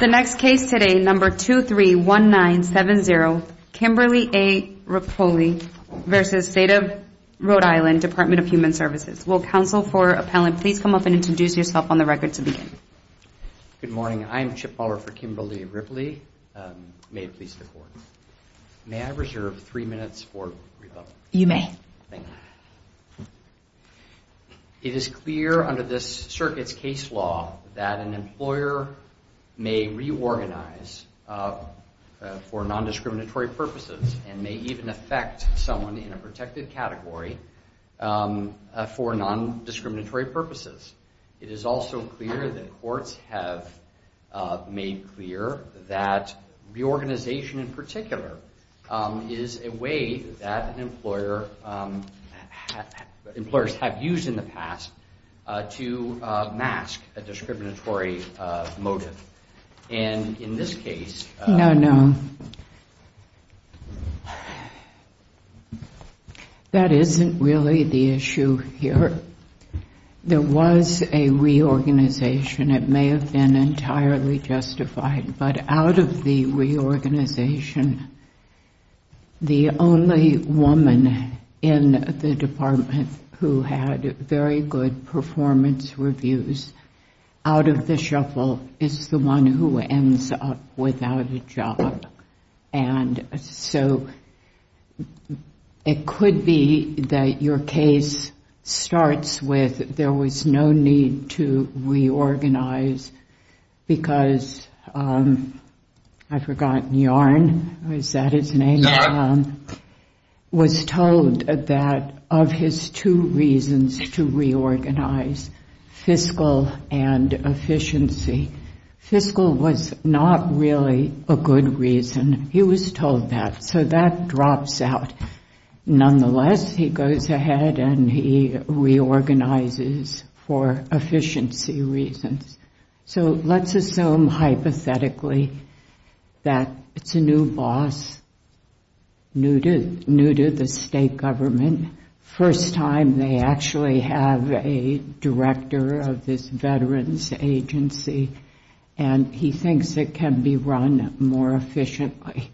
The next case today, number 231970, Kimberly A. Ripoli v. State of Rhode Island Department of Human Services. Will counsel for appellant please come up and introduce yourself on the record to begin. Good morning, I'm Chip Moller for Kimberly Ripoli, may it please the court. May I reserve three minutes for rebuttal? You may. Thank you. It is clear under this circuit's case law that an employer may reorganize for non-discriminatory purposes and may even affect someone in a protected category for non-discriminatory purposes. It is also clear that courts have made clear that reorganization in particular is a way that an employer, employers have used in the past to mask a discriminatory motive and in this case... No, no. That isn't really the issue here. There was a reorganization. It may have been entirely justified, but out of the reorganization, the only woman in the department who had very good performance reviews out of the shuffle is the one who ends up without a job. It could be that your case starts with there was no need to reorganize because, I've forgotten, Yarn, was that his name, was told that of his two reasons to reorganize, fiscal and efficiency. Fiscal was not really a good reason. He was told that, so that drops out. Nonetheless, he goes ahead and he reorganizes for efficiency reasons. So let's assume hypothetically that it's a new boss, new to the state government, first time they actually have a director of this veterans agency and he thinks it can be run more efficiently.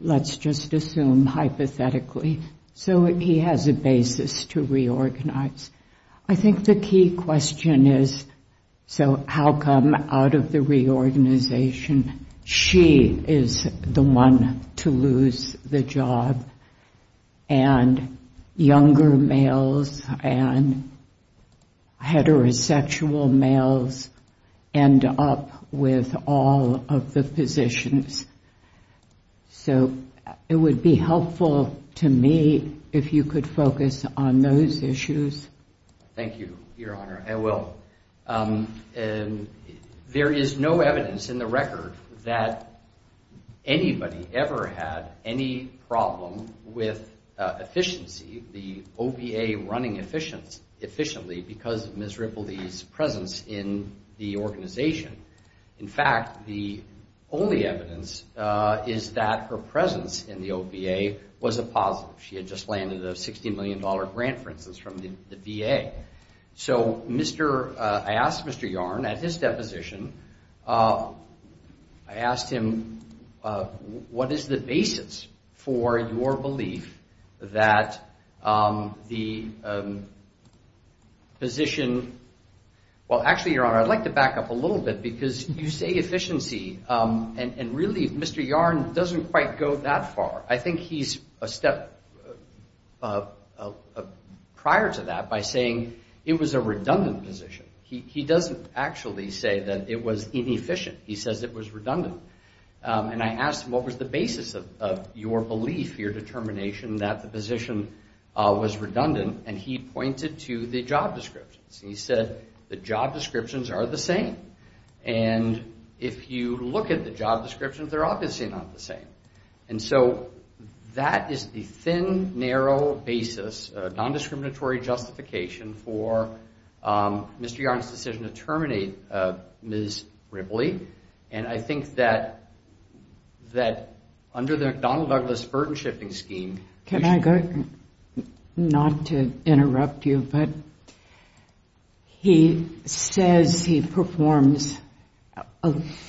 Let's just assume hypothetically. So he has a basis to reorganize. I think the key question is, so how come out of the reorganization she is the one to lose the job and younger males and heterosexual males end up with all of the positions? So it would be helpful to me if you could focus on those issues. Thank you, Your Honor. I will. There is no evidence in the record that anybody ever had any problem with efficiency, the OVA running efficiently because of Tripoli's presence in the organization. In fact, the only evidence is that her presence in the OVA was a positive. She had just landed a $60 million grant, for instance, from the VA. So I asked Mr. Yarn at his deposition, I asked him what is the basis for your belief that the position, well actually, Your Honor, I'd like to back up a little bit because you say efficiency and really Mr. Yarn doesn't quite go that far. I think he's a step prior to that by saying it was a redundant position. He doesn't actually say that it was inefficient. He says it was redundant. And I asked him what was the basis of your belief, your determination that the position was redundant and he pointed to the job descriptions. He said the job descriptions are the same and if you look at the job descriptions, they're obviously not the same. And so that is the thin, narrow basis, non-discriminatory justification for Mr. Yarn's decision to terminate Ms. Ripley. And I think that under the McDonnell-Douglas burden-shifting scheme... Can I go, not to interrupt you, but he says he performs,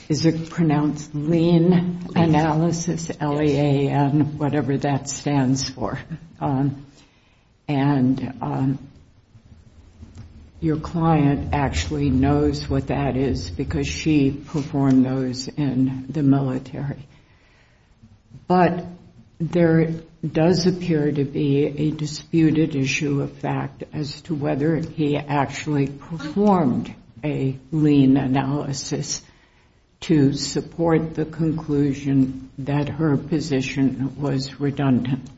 is it pronounced lean analysis, LEA and whatever that stands for. And your client actually knows what that is because she performed those in the military. But there does appear to be a disputed issue of fact as to whether he actually performed a lean analysis to support the conclusion that her position was redundant.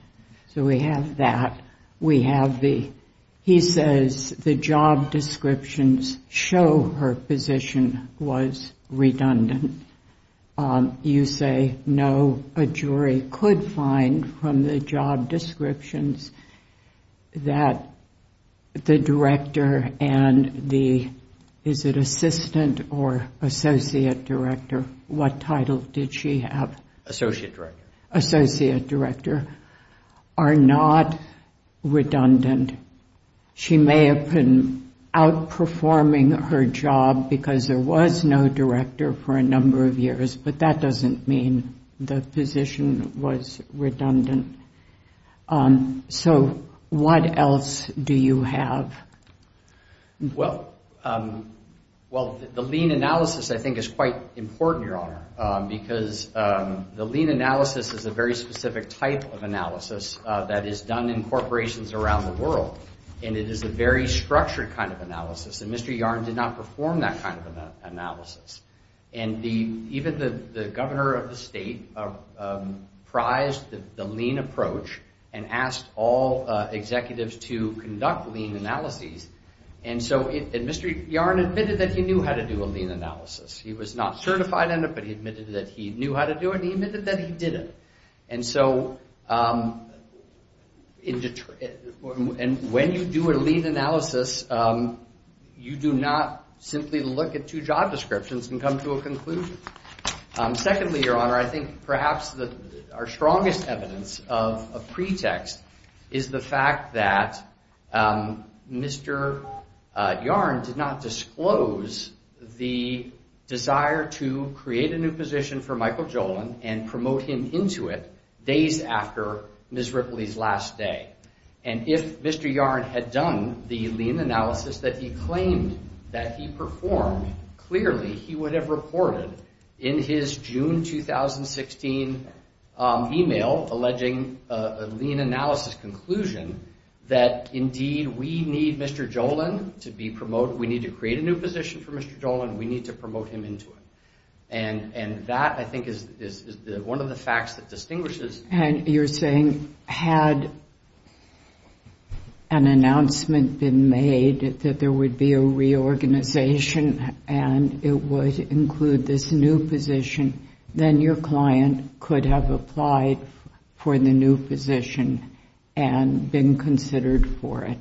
So we have that. We have the, he says the job descriptions show her position was redundant. You say no, a jury could find from the job descriptions that the director and the, is it assistant or associate director, what title did she have? Associate director. Associate director are not redundant. She may have been outperforming her job because there was no director for a number of years, but that doesn't mean the position was redundant. So what else do you have? Well, well the lean analysis I think is quite important, Your Honor, because the lean analysis is a very specific type of analysis that is done in corporations around the world. And it is a very structured kind of analysis. And Mr. Yarn did not perform that kind of analysis. And the, even the governor of the state prized the lean approach and asked all executives to conduct lean analyses. And so it, Mr. Yarn admitted that he knew how to do a lean analysis. He was not certified in it, but he admitted that he knew how to do it. He admitted that he did it. And so, and when you do a lean analysis, you do not simply look at two job descriptions and come to a conclusion. Secondly, Your Honor, I think perhaps the, our strongest evidence of a pretext is the fact that Mr. Yarn did not disclose the desire to create a new position for Michael Jolin and promote him into it days after Ms. Ripley's last day. And if Mr. Yarn had done the lean analysis that he claimed that he performed, clearly he would have reported in his June 2016 email alleging a lean analysis conclusion that indeed we need Mr. Jolin to be promoted. We need to create a new position for Mr. Jolin. We need to promote him into it. And, and that I think is one of the facts that distinguishes. And you're saying had an announcement been made that there would be a reorganization and it would include this new position, then your client could have applied for the new position and been considered for it.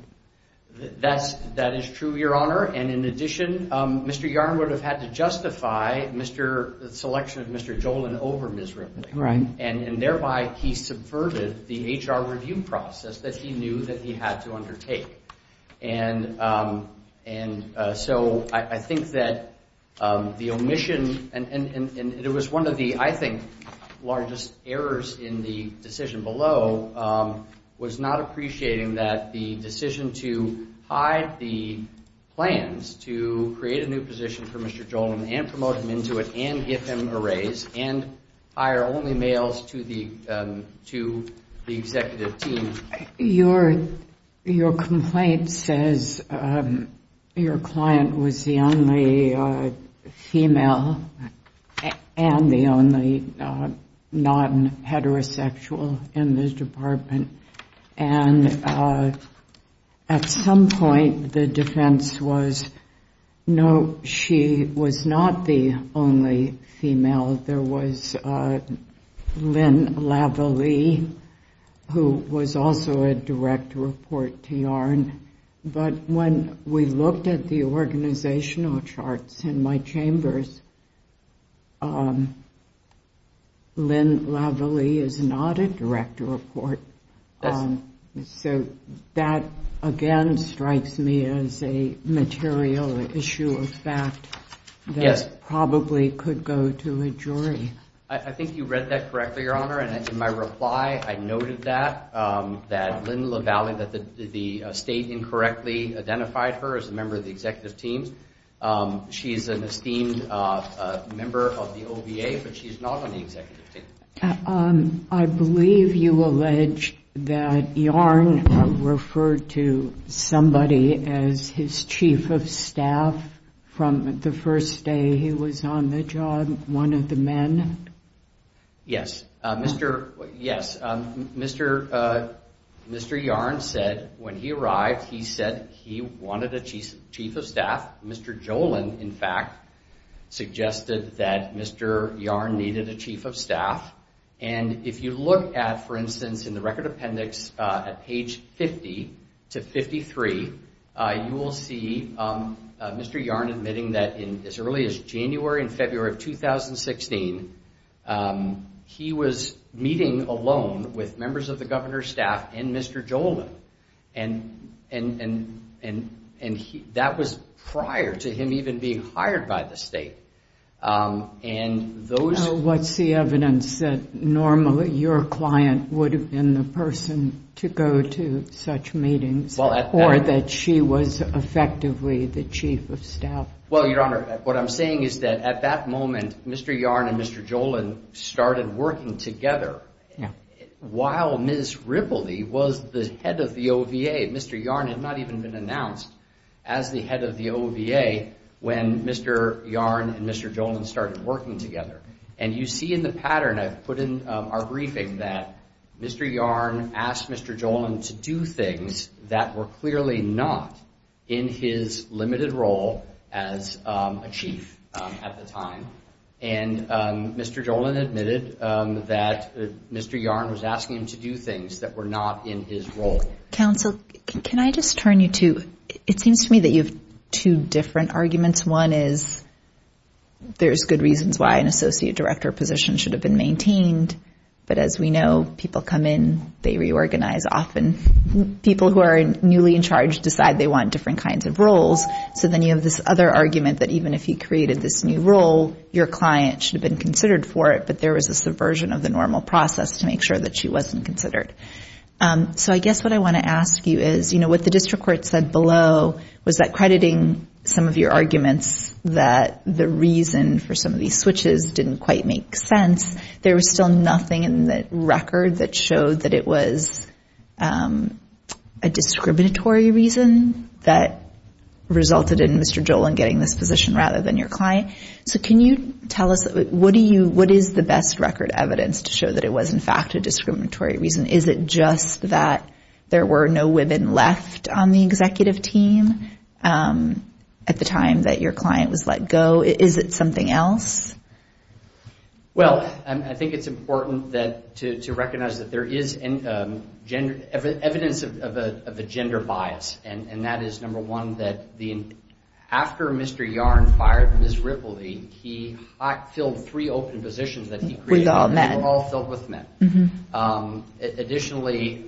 That's, that is true, Your Honor. And in addition, Mr. Yarn would have had to justify Mr., the selection of Mr. Jolin over Ms. Ripley. Right. And, and thereby he subverted the HR review process that he knew that he had to undertake. And, and so I, I think that the omission and, and, and it was one of the, I think, largest errors in the decision below was not appreciating that the decision to hide the plans to create a new position for Mr. Jolin and promote him into it and give him a raise and hire only males to the, to the executive team. Your, your complaint says your client was the only female and the only non-heterosexual in this department. And at some point the defense was, no, she was not the only female. There was Lynn Lavallee who was also a direct report to Yarn. But when we looked at the organizational charts in my chambers, Lynn Lavallee is not a direct report. So that, again, strikes me as a material issue of fact. Yes. That probably could go to a jury. I, I think you read that correctly, Your Honor. And in my reply, I noted that, that Lynn Lavallee, that the, the state incorrectly identified her as a member of the executive team. She is an esteemed member of the OVA, but she's not on the executive team. I believe you allege that Yarn referred to somebody as his chief of staff from the first day he was on the job, one of the men? Yes. Mr., yes. Mr., Mr. Yarn said when he arrived, he said he wanted a chief, chief of staff. Mr. Jolin, in fact, suggested that Mr. Yarn needed a chief of staff. And if you look at, for instance, in the record appendix at page 50 to 53, you will see Mr. Yarn admitting that in as early as January and February of 2016, he was meeting alone with members of the governor's staff and Mr. Jolin. And, and, and, and, and he, that was prior to him even being hired by the state. And those, what's the evidence that normally your client would have been the person to go to such meetings or that she was effectively the chief of staff? Well, Your Honor, what I'm saying is that at that moment, Mr. Yarn and Mr. Jolin started working together. Yeah. While Ms. Ripley was the head of the OVA, Mr. Yarn had not even been announced as the head of the OVA when Mr. Yarn and Mr. Jolin started working together. And you see in the pattern I've put in our briefing that Mr. Yarn asked Mr. Jolin to do things that were clearly not in his limited role as a chief at the time. And Mr. Jolin admitted that Mr. Yarn was asking him to do things that were not in his role. Counsel, can I just turn you to, it seems to me that you have two different arguments. One is there's good reasons why an associate director position should have been maintained. But as we know, people come in, they reorganize often. People who are newly in charge decide they want different kinds of roles. So then you have this other argument that even if he created this new role, your client should have been considered for it. But there was a subversion of the normal process to make sure that she wasn't considered. So I guess what I want to ask you is, you know, what the district court said below was that crediting some of your arguments that the reason for some of these switches didn't quite make sense, there was still nothing in the record that showed that it was a discriminatory reason that resulted in Mr. Jolin getting this position rather than your So can you tell us, what is the best record evidence to show that it was in fact a discriminatory reason? Is it just that there were no women left on the executive team at the time that your client was let go? Is it something else? Well, I think it's important to recognize that there is evidence of a gender bias. And that is, number one, that after Mr. Yarn fired Ms. Ripley, he filled three open positions that he created that were all filled with men. Additionally,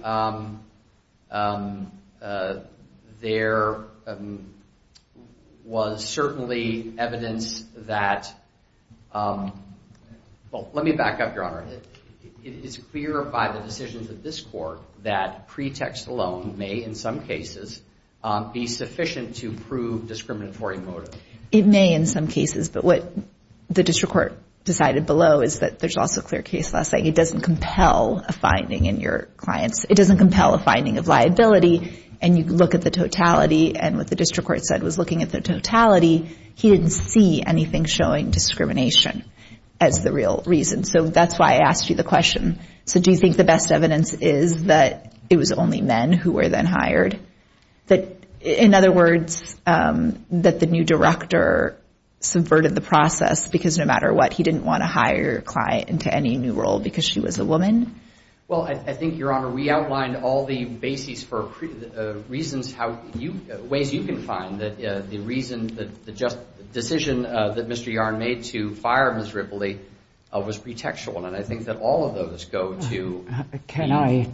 there was certainly evidence that, well, let me back up, Your Honor. It is clear by the decisions of this court that pretext alone may, in some cases, be sufficient to prove discriminatory motive. It may in some cases, but what the district court decided below is that there's also clear case law saying it doesn't compel a finding in your clients. It doesn't compel a finding of liability. And you look at the totality, and what the district court said was looking at the totality, he didn't see anything showing discrimination as the real reason. So that's why I asked you the question. So do you think the best evidence is that it was only men who were then hired? That, in other words, that the new director subverted the process because no matter what, he didn't want to hire a client into any new role because she was a woman? Well, I think, Your Honor, we outlined all the bases for reasons how you, ways you can find that the reason, the just decision that Mr. Ripley was pretextual, and I think that all of those go to the... Can I?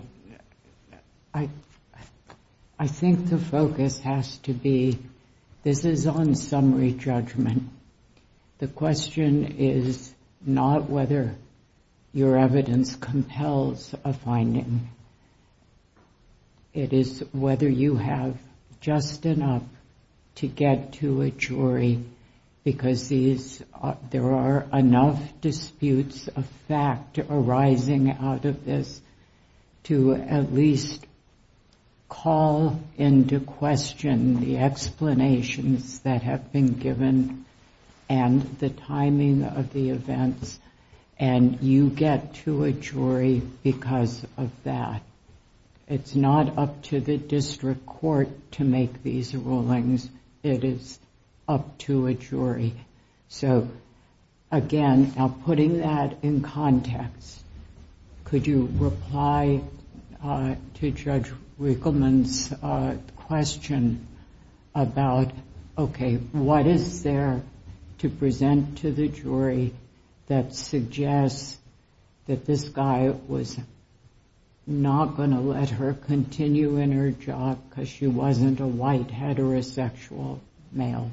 I think the focus has to be, this is on summary judgment. The question is not whether your evidence compels a finding. It is whether you have just enough to get to a jury because there are enough disputes of fact arising out of this to at least call into question the explanations that have been given and the timing of the events, and you get to a jury because of that. It's not up to the district court to make these rulings. It is up to a jury. So, again, now putting that in context, could you reply to Judge Riegelman's question about, okay, what is there to present to the jury that suggests that this guy was not going to let her continue in her job because she wasn't a white heterosexual male?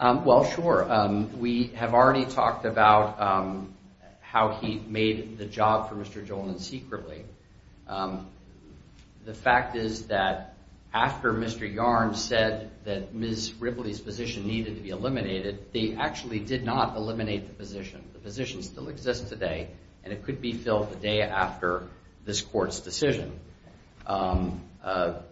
Well, sure. We have already talked about how he made the job for Mr. Joland secretly. The fact is that after Mr. Yarn said that Ms. Ripley's position needed to be eliminated, they actually did not eliminate the position. The position still exists today, and it could be filled the day after this court's decision. Mr.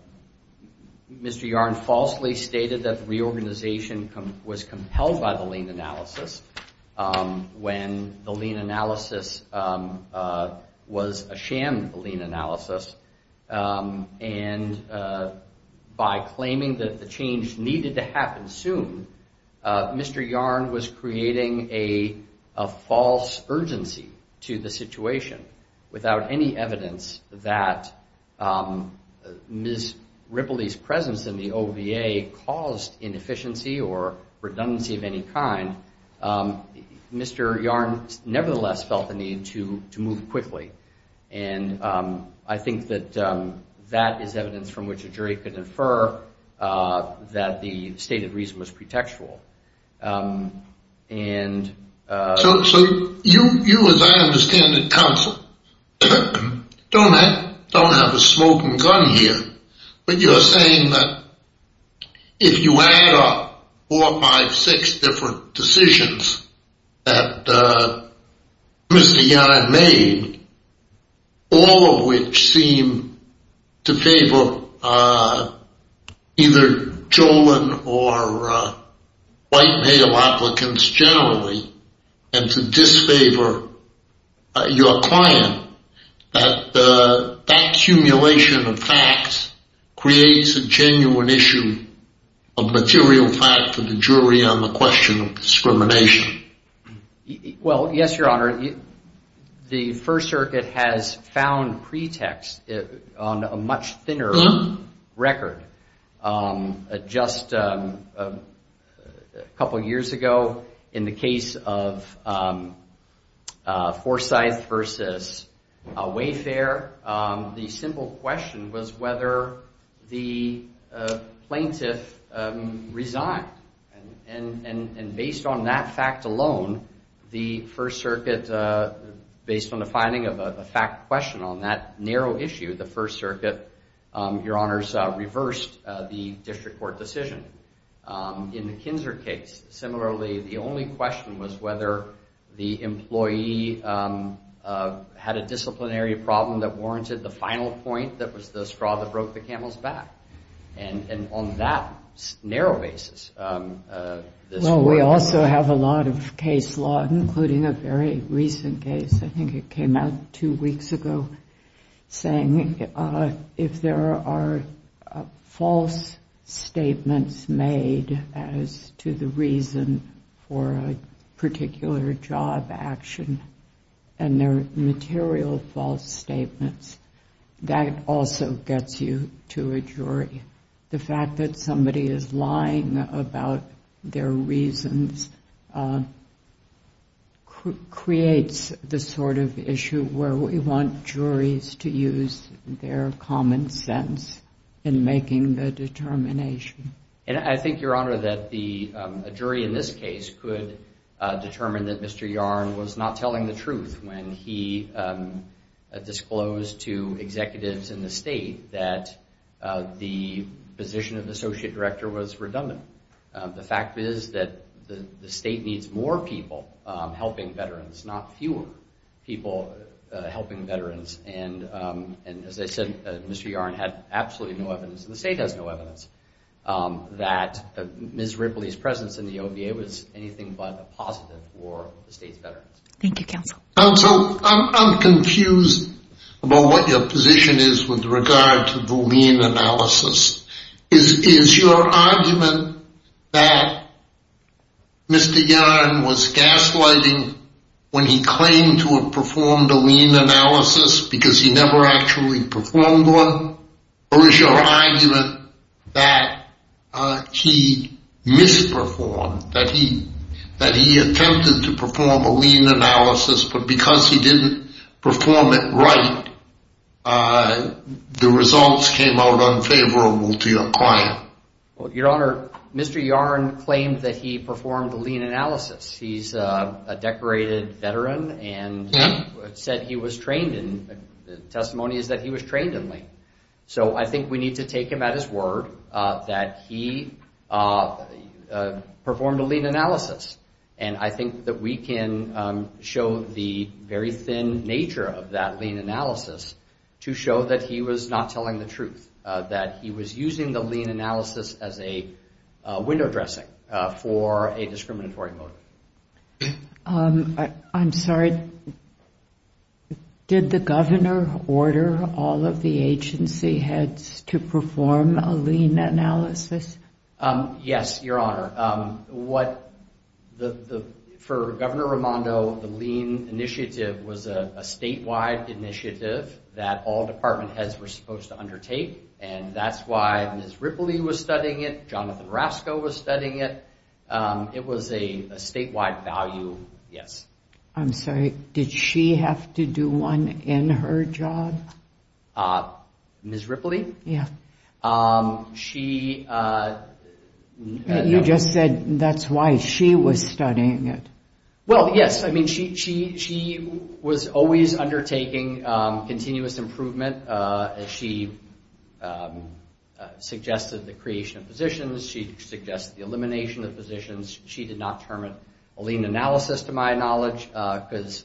Yarn falsely stated that the reorganization was compelled by the lien analysis when the lien analysis was a sham lien analysis, and by claiming that the change needed to happen soon, Mr. Yarn was creating a false urgency to the situation without any evidence that Ms. Ripley's presence in the OVA caused inefficiency or redundancy of any kind. Mr. Yarn nevertheless felt the need to move quickly, and I think that that is evidence from which a jury could infer that the stated reason was pretextual. So you, as I understand it, counsel, don't have a smoking gun here, but you're saying that if you add up four, five, six different decisions that Mr. Yarn made, all of which seem to favor either Joland or Ms. Ripley, white male applicants generally, and to disfavor your client, that that accumulation of facts creates a genuine issue of material fact for the jury on the question of discrimination. Well, yes, Your Honor. The First Circuit has found pretext on a much thinner record. Just a couple years ago, in the case of Forsyth versus Wayfair, the simple question was whether the plaintiff resigned, and based on that fact alone, the First Circuit, based on the finding of a fact question on that narrow issue, the First Circuit, Your Honors, reversed the district court decision. In the Kinser case, similarly, the only question was whether the employee had a disciplinary problem that warranted the final point that was the straw that broke the camel's back. And on that narrow basis, this court— Case law, including a very recent case, I think it came out two weeks ago, saying if there are false statements made as to the reason for a particular job action, and they're material false statements, that also gets you to a jury. The fact that somebody is lying about their reasons creates the sort of issue where we want juries to use their common sense in making the determination. And I think, Your Honor, that a jury in this case could determine that Mr. Yarn was not telling the truth when he disclosed to executives in the state that the position of the associate director was redundant. The fact is that the state needs more people helping veterans, not fewer people helping veterans. And as I said, Mr. Yarn had absolutely no evidence, and the state has no evidence, that Ms. Ripley's presence in the OVA was anything but a positive for the state's veterans. Thank you, counsel. Counsel, I'm confused about what your position is with regard to the lien analysis. Is your argument that Mr. Yarn was gaslighting when he claimed to have performed a lien analysis because he never actually performed one? Or is your argument that he misperformed, that he attempted to perform a lien analysis, but because he didn't perform it right, the results came out unfavorable to your client? Well, Your Honor, Mr. Yarn claimed that he performed a lien analysis. He's a decorated veteran and said he was trained in, the testimony is that he was trained in lien. So I think we need to take him at his word that he performed a lien analysis, and I think that we can show the very thin nature of that lien analysis to show that he was not telling the truth, that he was using the lien analysis as a window dressing for a discriminatory motive. I'm sorry, did the governor order all of the agency heads to perform a lien analysis? Yes, Your Honor. For Governor Raimondo, the lien initiative was a statewide initiative that all department heads were supposed to undertake, and that's why Ms. Ripley was studying it, Jonathan Rasko was studying it. It was a statewide value, yes. I'm sorry, did she have to do one in her job? Ms. Ripley? She... You just said that's why she was studying it. Well, yes, I mean, she was always undertaking continuous improvement. She suggested the creation of positions. She suggested the elimination of positions. She did not permit a lien analysis, to my knowledge, because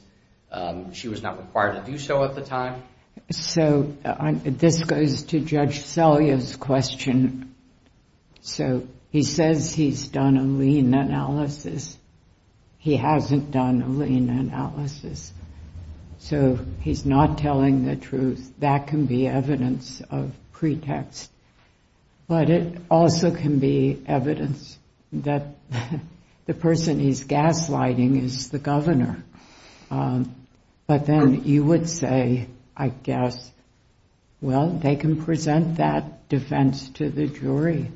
she was not required to do so at the time. So this goes to Judge Selya's question. So he says he's done a lien analysis. He hasn't done a lien analysis. So he's not telling the truth. That can be evidence of pretext, but it also can be evidence that the person he's gaslighting is the governor. But then you would say, I guess, well, they can present that defense to the jury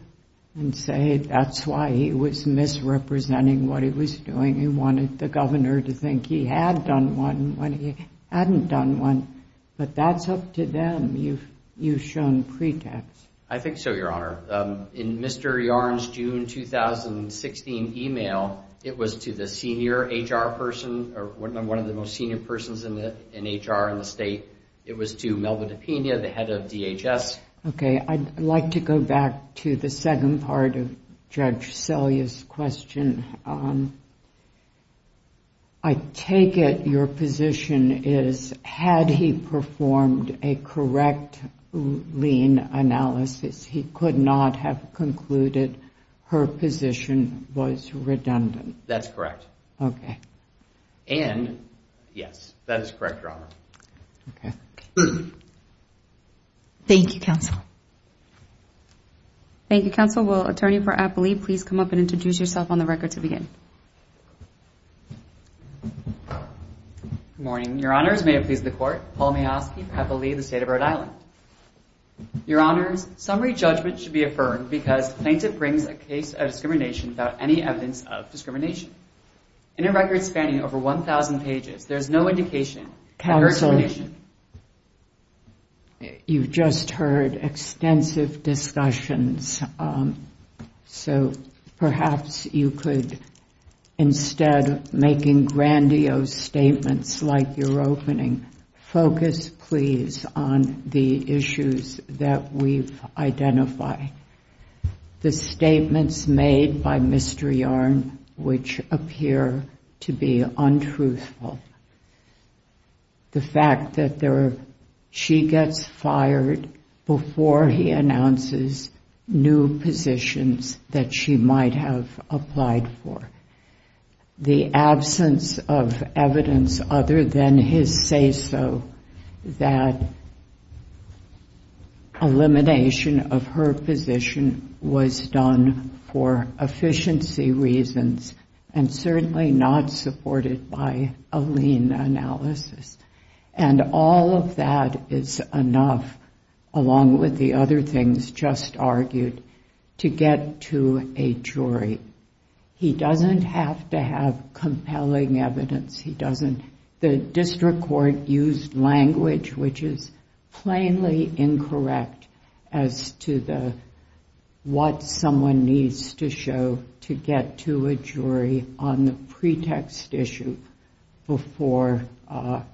and say that's why he was misrepresenting what he was doing. He wanted the governor to think he had done one when he hadn't done one. But that's up to them. You've shown pretext. I think so, Your Honor. In Mr. Yarn's June 2016 email, it was to the senior HR person or one of the most senior persons in HR in the state. It was to Melba DiPina, the head of DHS. OK, I'd like to go back to the second part of Judge Selya's question. I take it your position is had he performed a correct lien analysis, he could not have concluded her position was redundant. That's correct. OK. And, yes, that is correct, Your Honor. Thank you, counsel. Thank you, counsel. Will attorney for Applee please come up and introduce yourself on the record to begin? Good morning, Your Honors. May it please the court, Paul Mayosky, Applee, the state of Rhode Island. Your Honors, summary judgment should be affirmed because plaintiff brings a case of discrimination without any evidence of discrimination. In a record spanning over 1,000 pages, there's no indication or explanation. Counsel, you've just heard extensive discussions, so perhaps you could instead, making grandiose statements like your opening, focus, please, on the issues that we've identified. The statements made by Mr. Yarn which appear to be untruthful. The fact that she gets fired before he announces new positions that she might have applied for. The absence of evidence other than his say-so that elimination of her position was done for efficiency reasons and certainly not supported by a lien analysis. And all of that is enough, along with the other things just argued, to get to a jury. He doesn't have to have compelling evidence. He doesn't. The district court used language which is plainly incorrect as to what someone needs to show to get to a jury on the pretext issue before a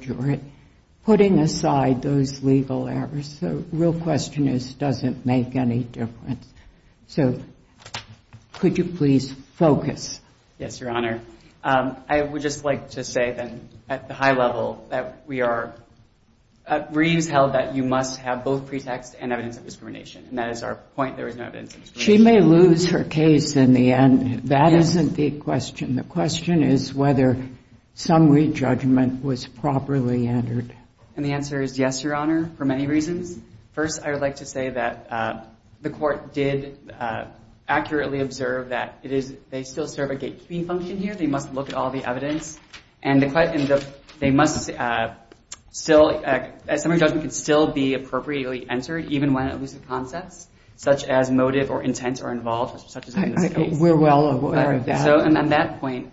jury, putting aside those legal errors. The real question is, does it make any difference? So, could you please focus? Yes, Your Honor. I would just like to say then, at the high level, that we are, Reeves held that you must have both pretext and evidence of discrimination. And that is our point. There is no evidence of discrimination. She may lose her case in the end. That isn't the question. The question is whether summary judgment was properly entered. And the answer is yes, Your Honor, for many reasons. First, I would like to say that the court did accurately observe that they still serve a gatekeeping function here. They must look at all the evidence. And they must still, a summary judgment could still be appropriately entered, even when it loses concepts, such as motive or intent or involvement, such as in this case. We're well aware of that. So, on that point,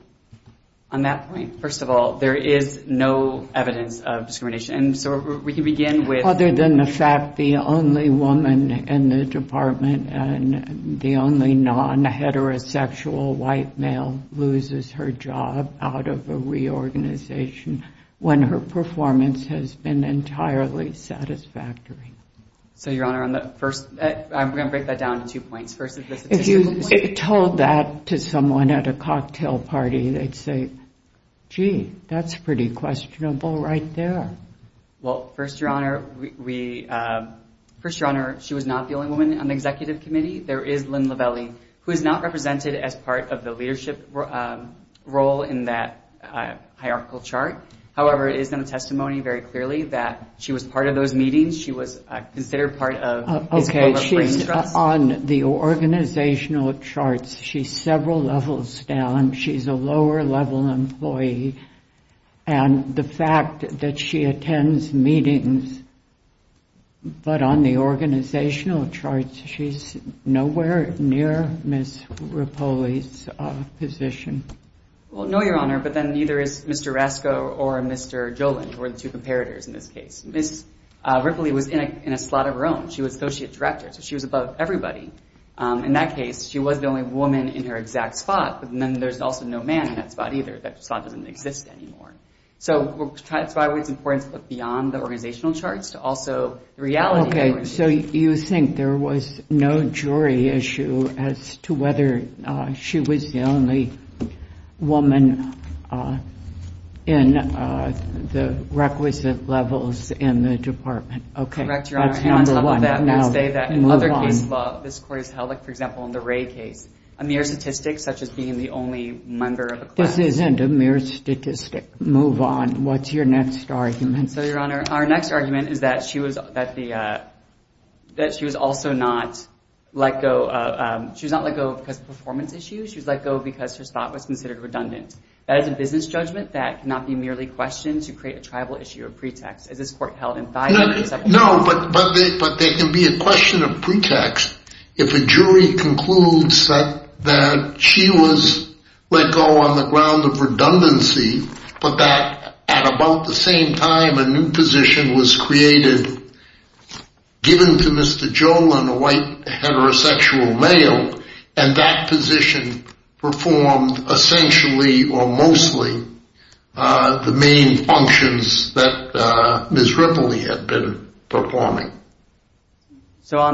on that point, first of all, there is no evidence of discrimination. So, we can begin with. Other than the fact the only woman in the department and the only non-heterosexual white male loses her job out of a reorganization when her performance has been entirely satisfactory. So, Your Honor, on the first, I'm going to break that down into two points. If you told that to someone at a cocktail party, they'd say, gee, that's pretty questionable right there. Well, first, Your Honor, we, first, Your Honor, she was not the only woman on the executive committee. There is Lynn Lovelli, who is not represented as part of the leadership role in that hierarchical chart. However, it is in the testimony very clearly that she was part of those meetings. She was considered part of. Okay. She's on the organizational charts. She's several levels down. She's a lower-level employee. And the fact that she attends meetings, but on the organizational charts, she's nowhere near Ms. Ripolli's position. Well, no, Your Honor, but then neither is Mr. Rasko or Mr. Jolin, who are the two comparators in this case. Ms. Ripolli was in a slot of her own. She was associate director, so she was above everybody. In that case, she was the only woman in her exact spot. And then there's also no man in that spot either. That slot doesn't exist anymore. So that's why it's important to look beyond the organizational charts to also the reality of the organization. So you think there was no jury issue as to whether she was the only woman in the requisite levels in the department? Correct, Your Honor. And on top of that, I must say that in other case law, this court has held, like, for example, in the Ray case, a mere statistic, such as being the only member of a class. This isn't a mere statistic. Move on. What's your next argument? So, Your Honor, our next argument is that she was also not let go. She was not let go because of performance issues. She was let go because her spot was considered redundant. That is a business judgment that cannot be merely questioned to create a tribal issue or pretext. Is this court held in violence? No, but there can be a question of pretext. If a jury concludes that she was let go on the ground of redundancy, but that at about the same time a new position was created given to Mr. So, on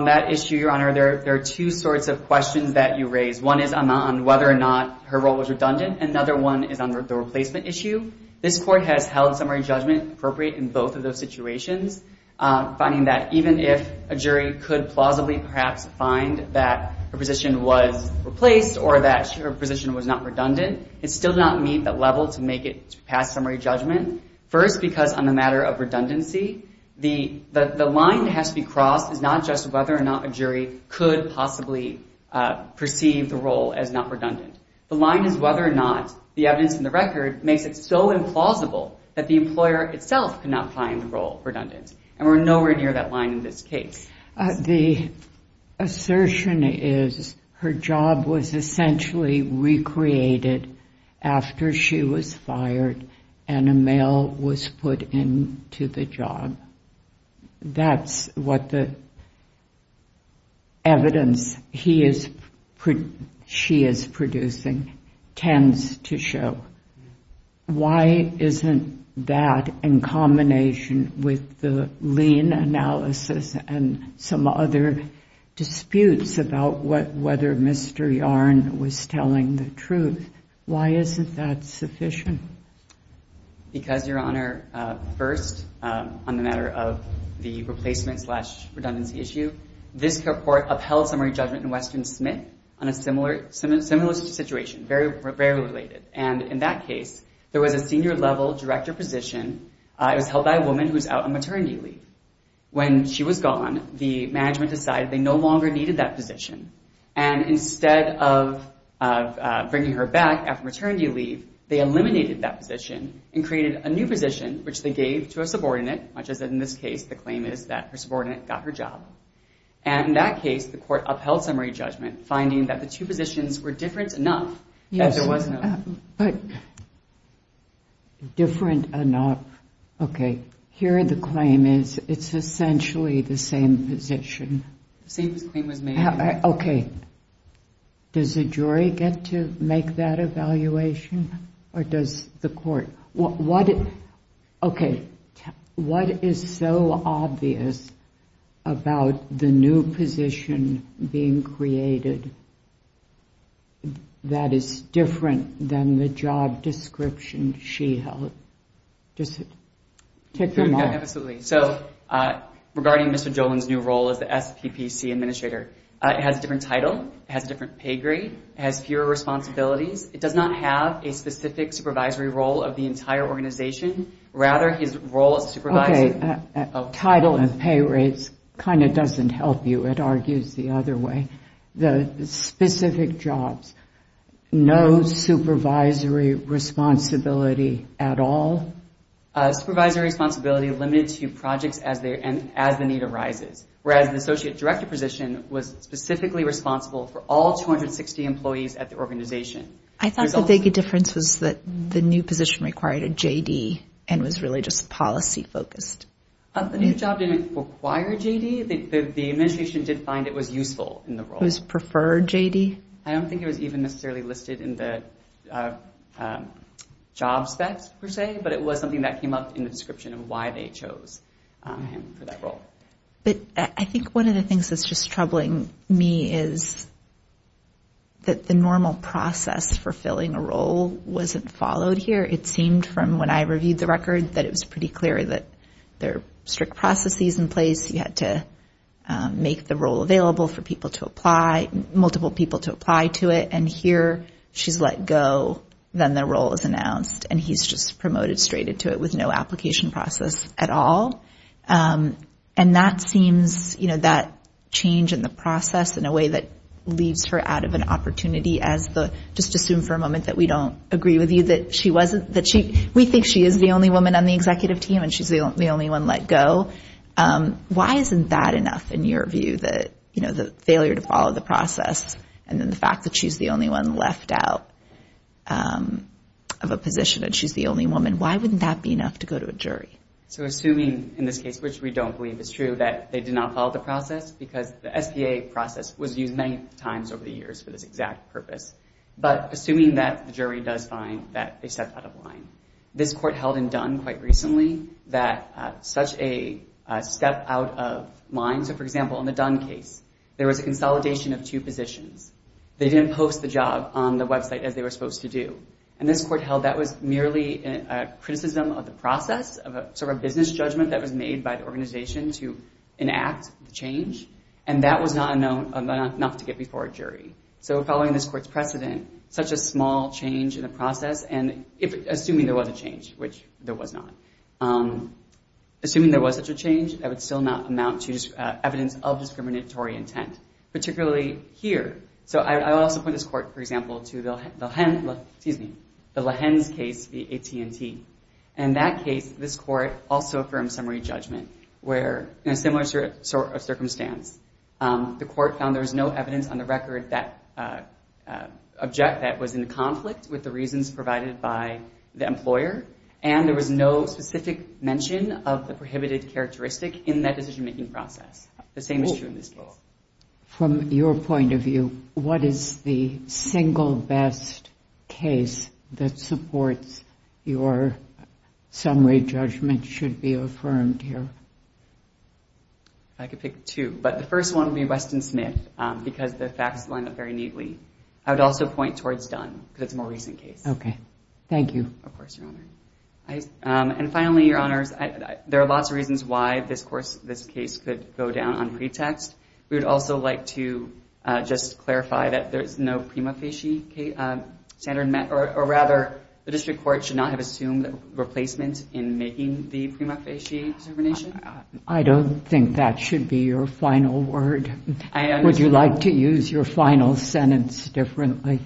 that issue, Your Honor, there are two sorts of questions that you raise. One is on whether or not her role was redundant. Another one is on the replacement issue. This court has held summary judgment appropriate in both of those situations, finding that even if a jury could plausibly perhaps find that her position was replaced or that her position was not redundant, it still did not meet that level to make it past summary judgment. First, because on the matter of redundancy, the line that has to be crossed is not just whether or not a jury could possibly perceive the role as not redundant. The line is whether or not the evidence in the record makes it so implausible that the employer itself could not find the role redundant. And we're nowhere near that line in this case. The assertion is her job was essentially recreated after she was fired and a male was put into the job. That's what the evidence she is producing tends to show. Why isn't that, in combination with the lien analysis and some other disputes about whether Mr. Yarn was telling the truth, why isn't that sufficient? Because, Your Honor, first, on the matter of the replacement-slash-redundancy issue, this court upheld summary judgment in Weston-Smith on a similar situation, very related. And in that case, there was a senior-level director position. It was held by a woman who was out on maternity leave. When she was gone, the management decided they no longer needed that position. And instead of bringing her back after maternity leave, they eliminated that position and created a new position, which they gave to a subordinate, much as in this case the claim is that her subordinate got her job. And in that case, the court upheld summary judgment, finding that the two positions were different enough that there was no... Yes, but different enough. Okay. Here the claim is it's essentially the same position. The same claim was made. Okay. Does the jury get to make that evaluation, or does the court? Okay. What is so obvious about the new position being created that is different than the job description she held? Just tick them off. Absolutely. So regarding Mr. Jolin's new role as the SPPC administrator, it has a different title. It has a different pay grade. It has fewer responsibilities. It does not have a specific supervisory role of the entire organization. Rather, his role as supervisor... Title and pay rates kind of doesn't help you, it argues the other way. The specific jobs, no supervisory responsibility at all? Supervisory responsibility limited to projects as the need arises. Whereas the associate director position was specifically responsible for all 260 employees at the organization. I thought the big difference was that the new position required a J.D. and was really just policy-focused. The new job didn't require a J.D. The administration did find it was useful in the role. It was preferred J.D.? I don't think it was even necessarily listed in the job specs per se, but it was something that came up in the description of why they chose him for that role. But I think one of the things that's just troubling me is that the normal process for filling a role wasn't followed here. It seemed from when I reviewed the record that it was pretty clear that there are strict processes in place. You had to make the role available for people to apply, multiple people to apply to it. And here, she's let go. Then the role is announced. And he's just promoted straight into it with no application process at all. And that seems that change in the process in a way that leaves her out of an opportunity as the just assume for a moment that we don't agree with you that she wasn't that we think she is the only woman on the executive team and she's the only one let go. Why isn't that enough in your view that the failure to follow the process and then the fact that she's the only one left out of a position and she's the only woman, why wouldn't that be enough to go to a jury? So assuming in this case, which we don't believe is true, that they did not follow the process because the SBA process was used many times over the years for this exact purpose. But assuming that the jury does find that they stepped out of line. This court held in Dunn quite recently that such a step out of line. So, for example, in the Dunn case, there was a consolidation of two positions. They didn't post the job on the website as they were supposed to do. And this court held that was merely a criticism of the process of a sort of business judgment that was made by the organization to enact the change. And that was not enough to get before a jury. So following this court's precedent, such a small change in the process, and assuming there was a change, which there was not, assuming there was such a change, that would still not amount to evidence of discriminatory intent, particularly here. So I would also point this court, for example, to the Lehens case, the AT&T. In that case, this court also affirmed summary judgment where, in a similar sort of circumstance, the court found there was no evidence on the record that was in conflict with the reasons provided by the employer, and there was no specific mention of the prohibited characteristic in that decision-making process. The same is true in this case. From your point of view, what is the single best case that supports your summary judgment should be affirmed here? I could pick two, but the first one would be Weston-Smith because the facts line up very neatly. I would also point towards Dunn because it's a more recent case. Okay. Thank you. Of course, Your Honor. And finally, Your Honors, there are lots of reasons why this case could go down on pretext. We would also like to just clarify that there is no prima facie standard, or rather the district court should not have assumed replacement in making the prima facie determination. I don't think that should be your final word. Would you like to use your final sentence differently?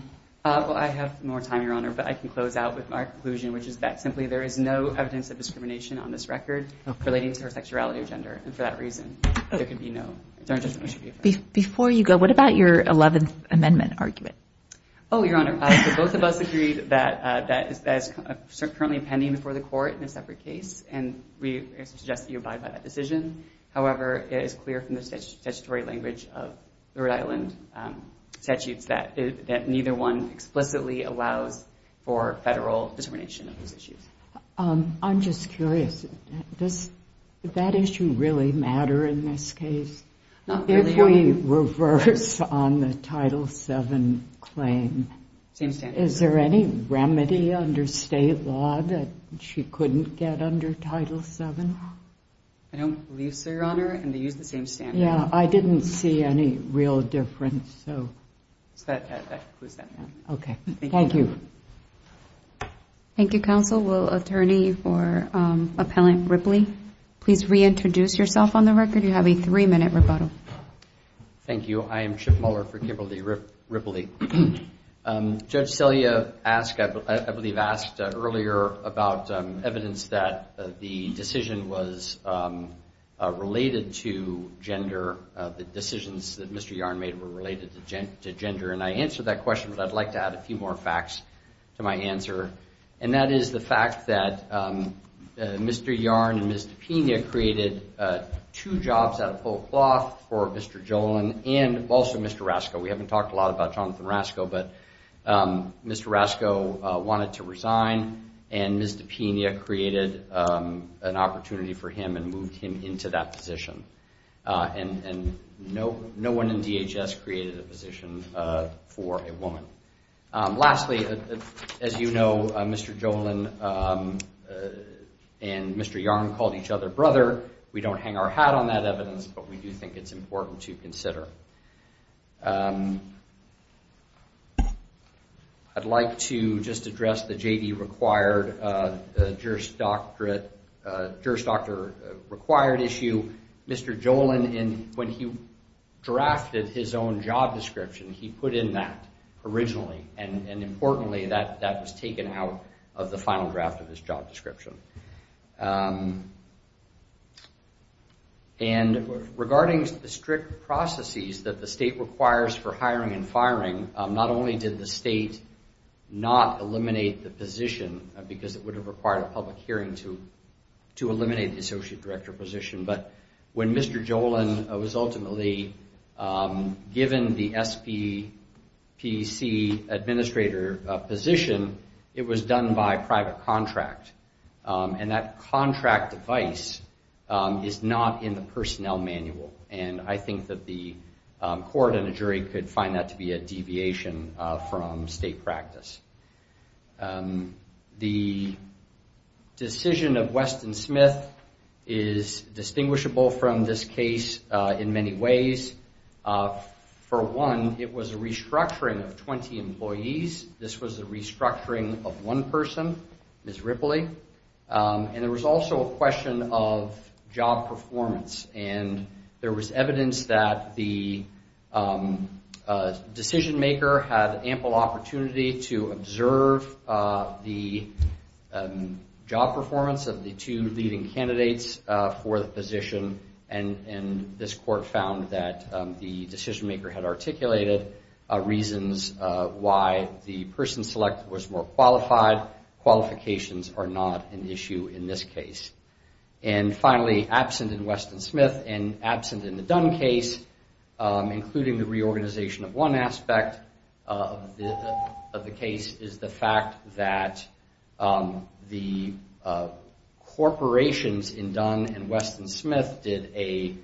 Well, I have more time, Your Honor, but I can close out with my conclusion, which is that simply there is no evidence of discrimination on this record relating to her sexuality or gender. And for that reason, there can be no judgment that should be affirmed. Before you go, what about your Eleventh Amendment argument? Oh, Your Honor, both of us agreed that that is currently pending before the court in a separate case, and we suggest that you abide by that decision. However, it is clear from the statutory language of the Rhode Island statutes that neither one explicitly allows for federal determination of those issues. I'm just curious. Does that issue really matter in this case? Not really, Your Honor. If we reverse on the Title VII claim, is there any remedy under state law that she couldn't get under Title VII? I don't believe so, Your Honor, and they use the same standard. Yeah, I didn't see any real difference. So that concludes that. Okay, thank you. Thank you, counsel. Will attorney for Appellant Ripley please reintroduce yourself on the record? You have a three-minute rebuttal. Thank you. I am Chip Muller for Kimberly Ripley. Judge Celia asked, I believe asked earlier about evidence that the decision was related to gender, the decisions that Mr. Yarn made were related to gender, and I answered that question, but I'd like to add a few more facts to my answer, and that is the fact that Mr. Yarn and Mr. Pena created two jobs out of full cloth for Mr. Jolin and also Mr. Rasko. We haven't talked a lot about Jonathan Rasko, but Mr. Rasko wanted to resign, and Ms. DePena created an opportunity for him and moved him into that position. And no one in DHS created a position for a woman. Lastly, as you know, Mr. Jolin and Mr. Yarn called each other brother. We don't hang our hat on that evidence, but we do think it's important to consider. I'd like to just address the J.D. required, Juris Doctor required issue. Mr. Jolin, when he drafted his own job description, he put in that originally, and importantly, that was taken out of the final draft of his job description. And regarding the strict processes that the state requires for hiring and firing, not only did the state not eliminate the position because it would have required a public hearing to eliminate the associate director position, but when Mr. Jolin was ultimately given the SPPC administrator position, it was done by private contract. And that contract device is not in the personnel manual. And I think that the court and the jury could find that to be a deviation from state practice. The decision of Weston Smith is distinguishable from this case in many ways. For one, it was a restructuring of 20 employees. This was a restructuring of one person, Ms. Ripley. And there was also a question of job performance. And there was evidence that the decision maker had ample opportunity to observe the job performance of the two leading candidates for the position. And this court found that the decision maker had articulated reasons why the person selected was more qualified. Qualifications are not an issue in this case. And finally, absent in Weston Smith and absent in the Dunn case, including the reorganization of one aspect of the case, is the fact that the corporations in Dunn and Weston Smith did a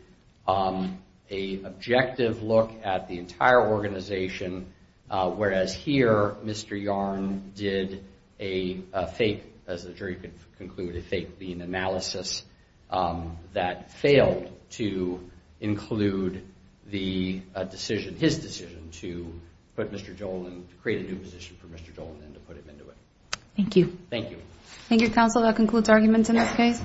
objective look at the entire organization, whereas here, Mr. Yarn did a fake, as the jury could conclude, a fake lien analysis that failed to include the decision, his decision to put Mr. Joel in, to create a new position for Mr. Joel and to put him into it. Thank you. Thank you. Thank you, counsel. That concludes arguments in this case.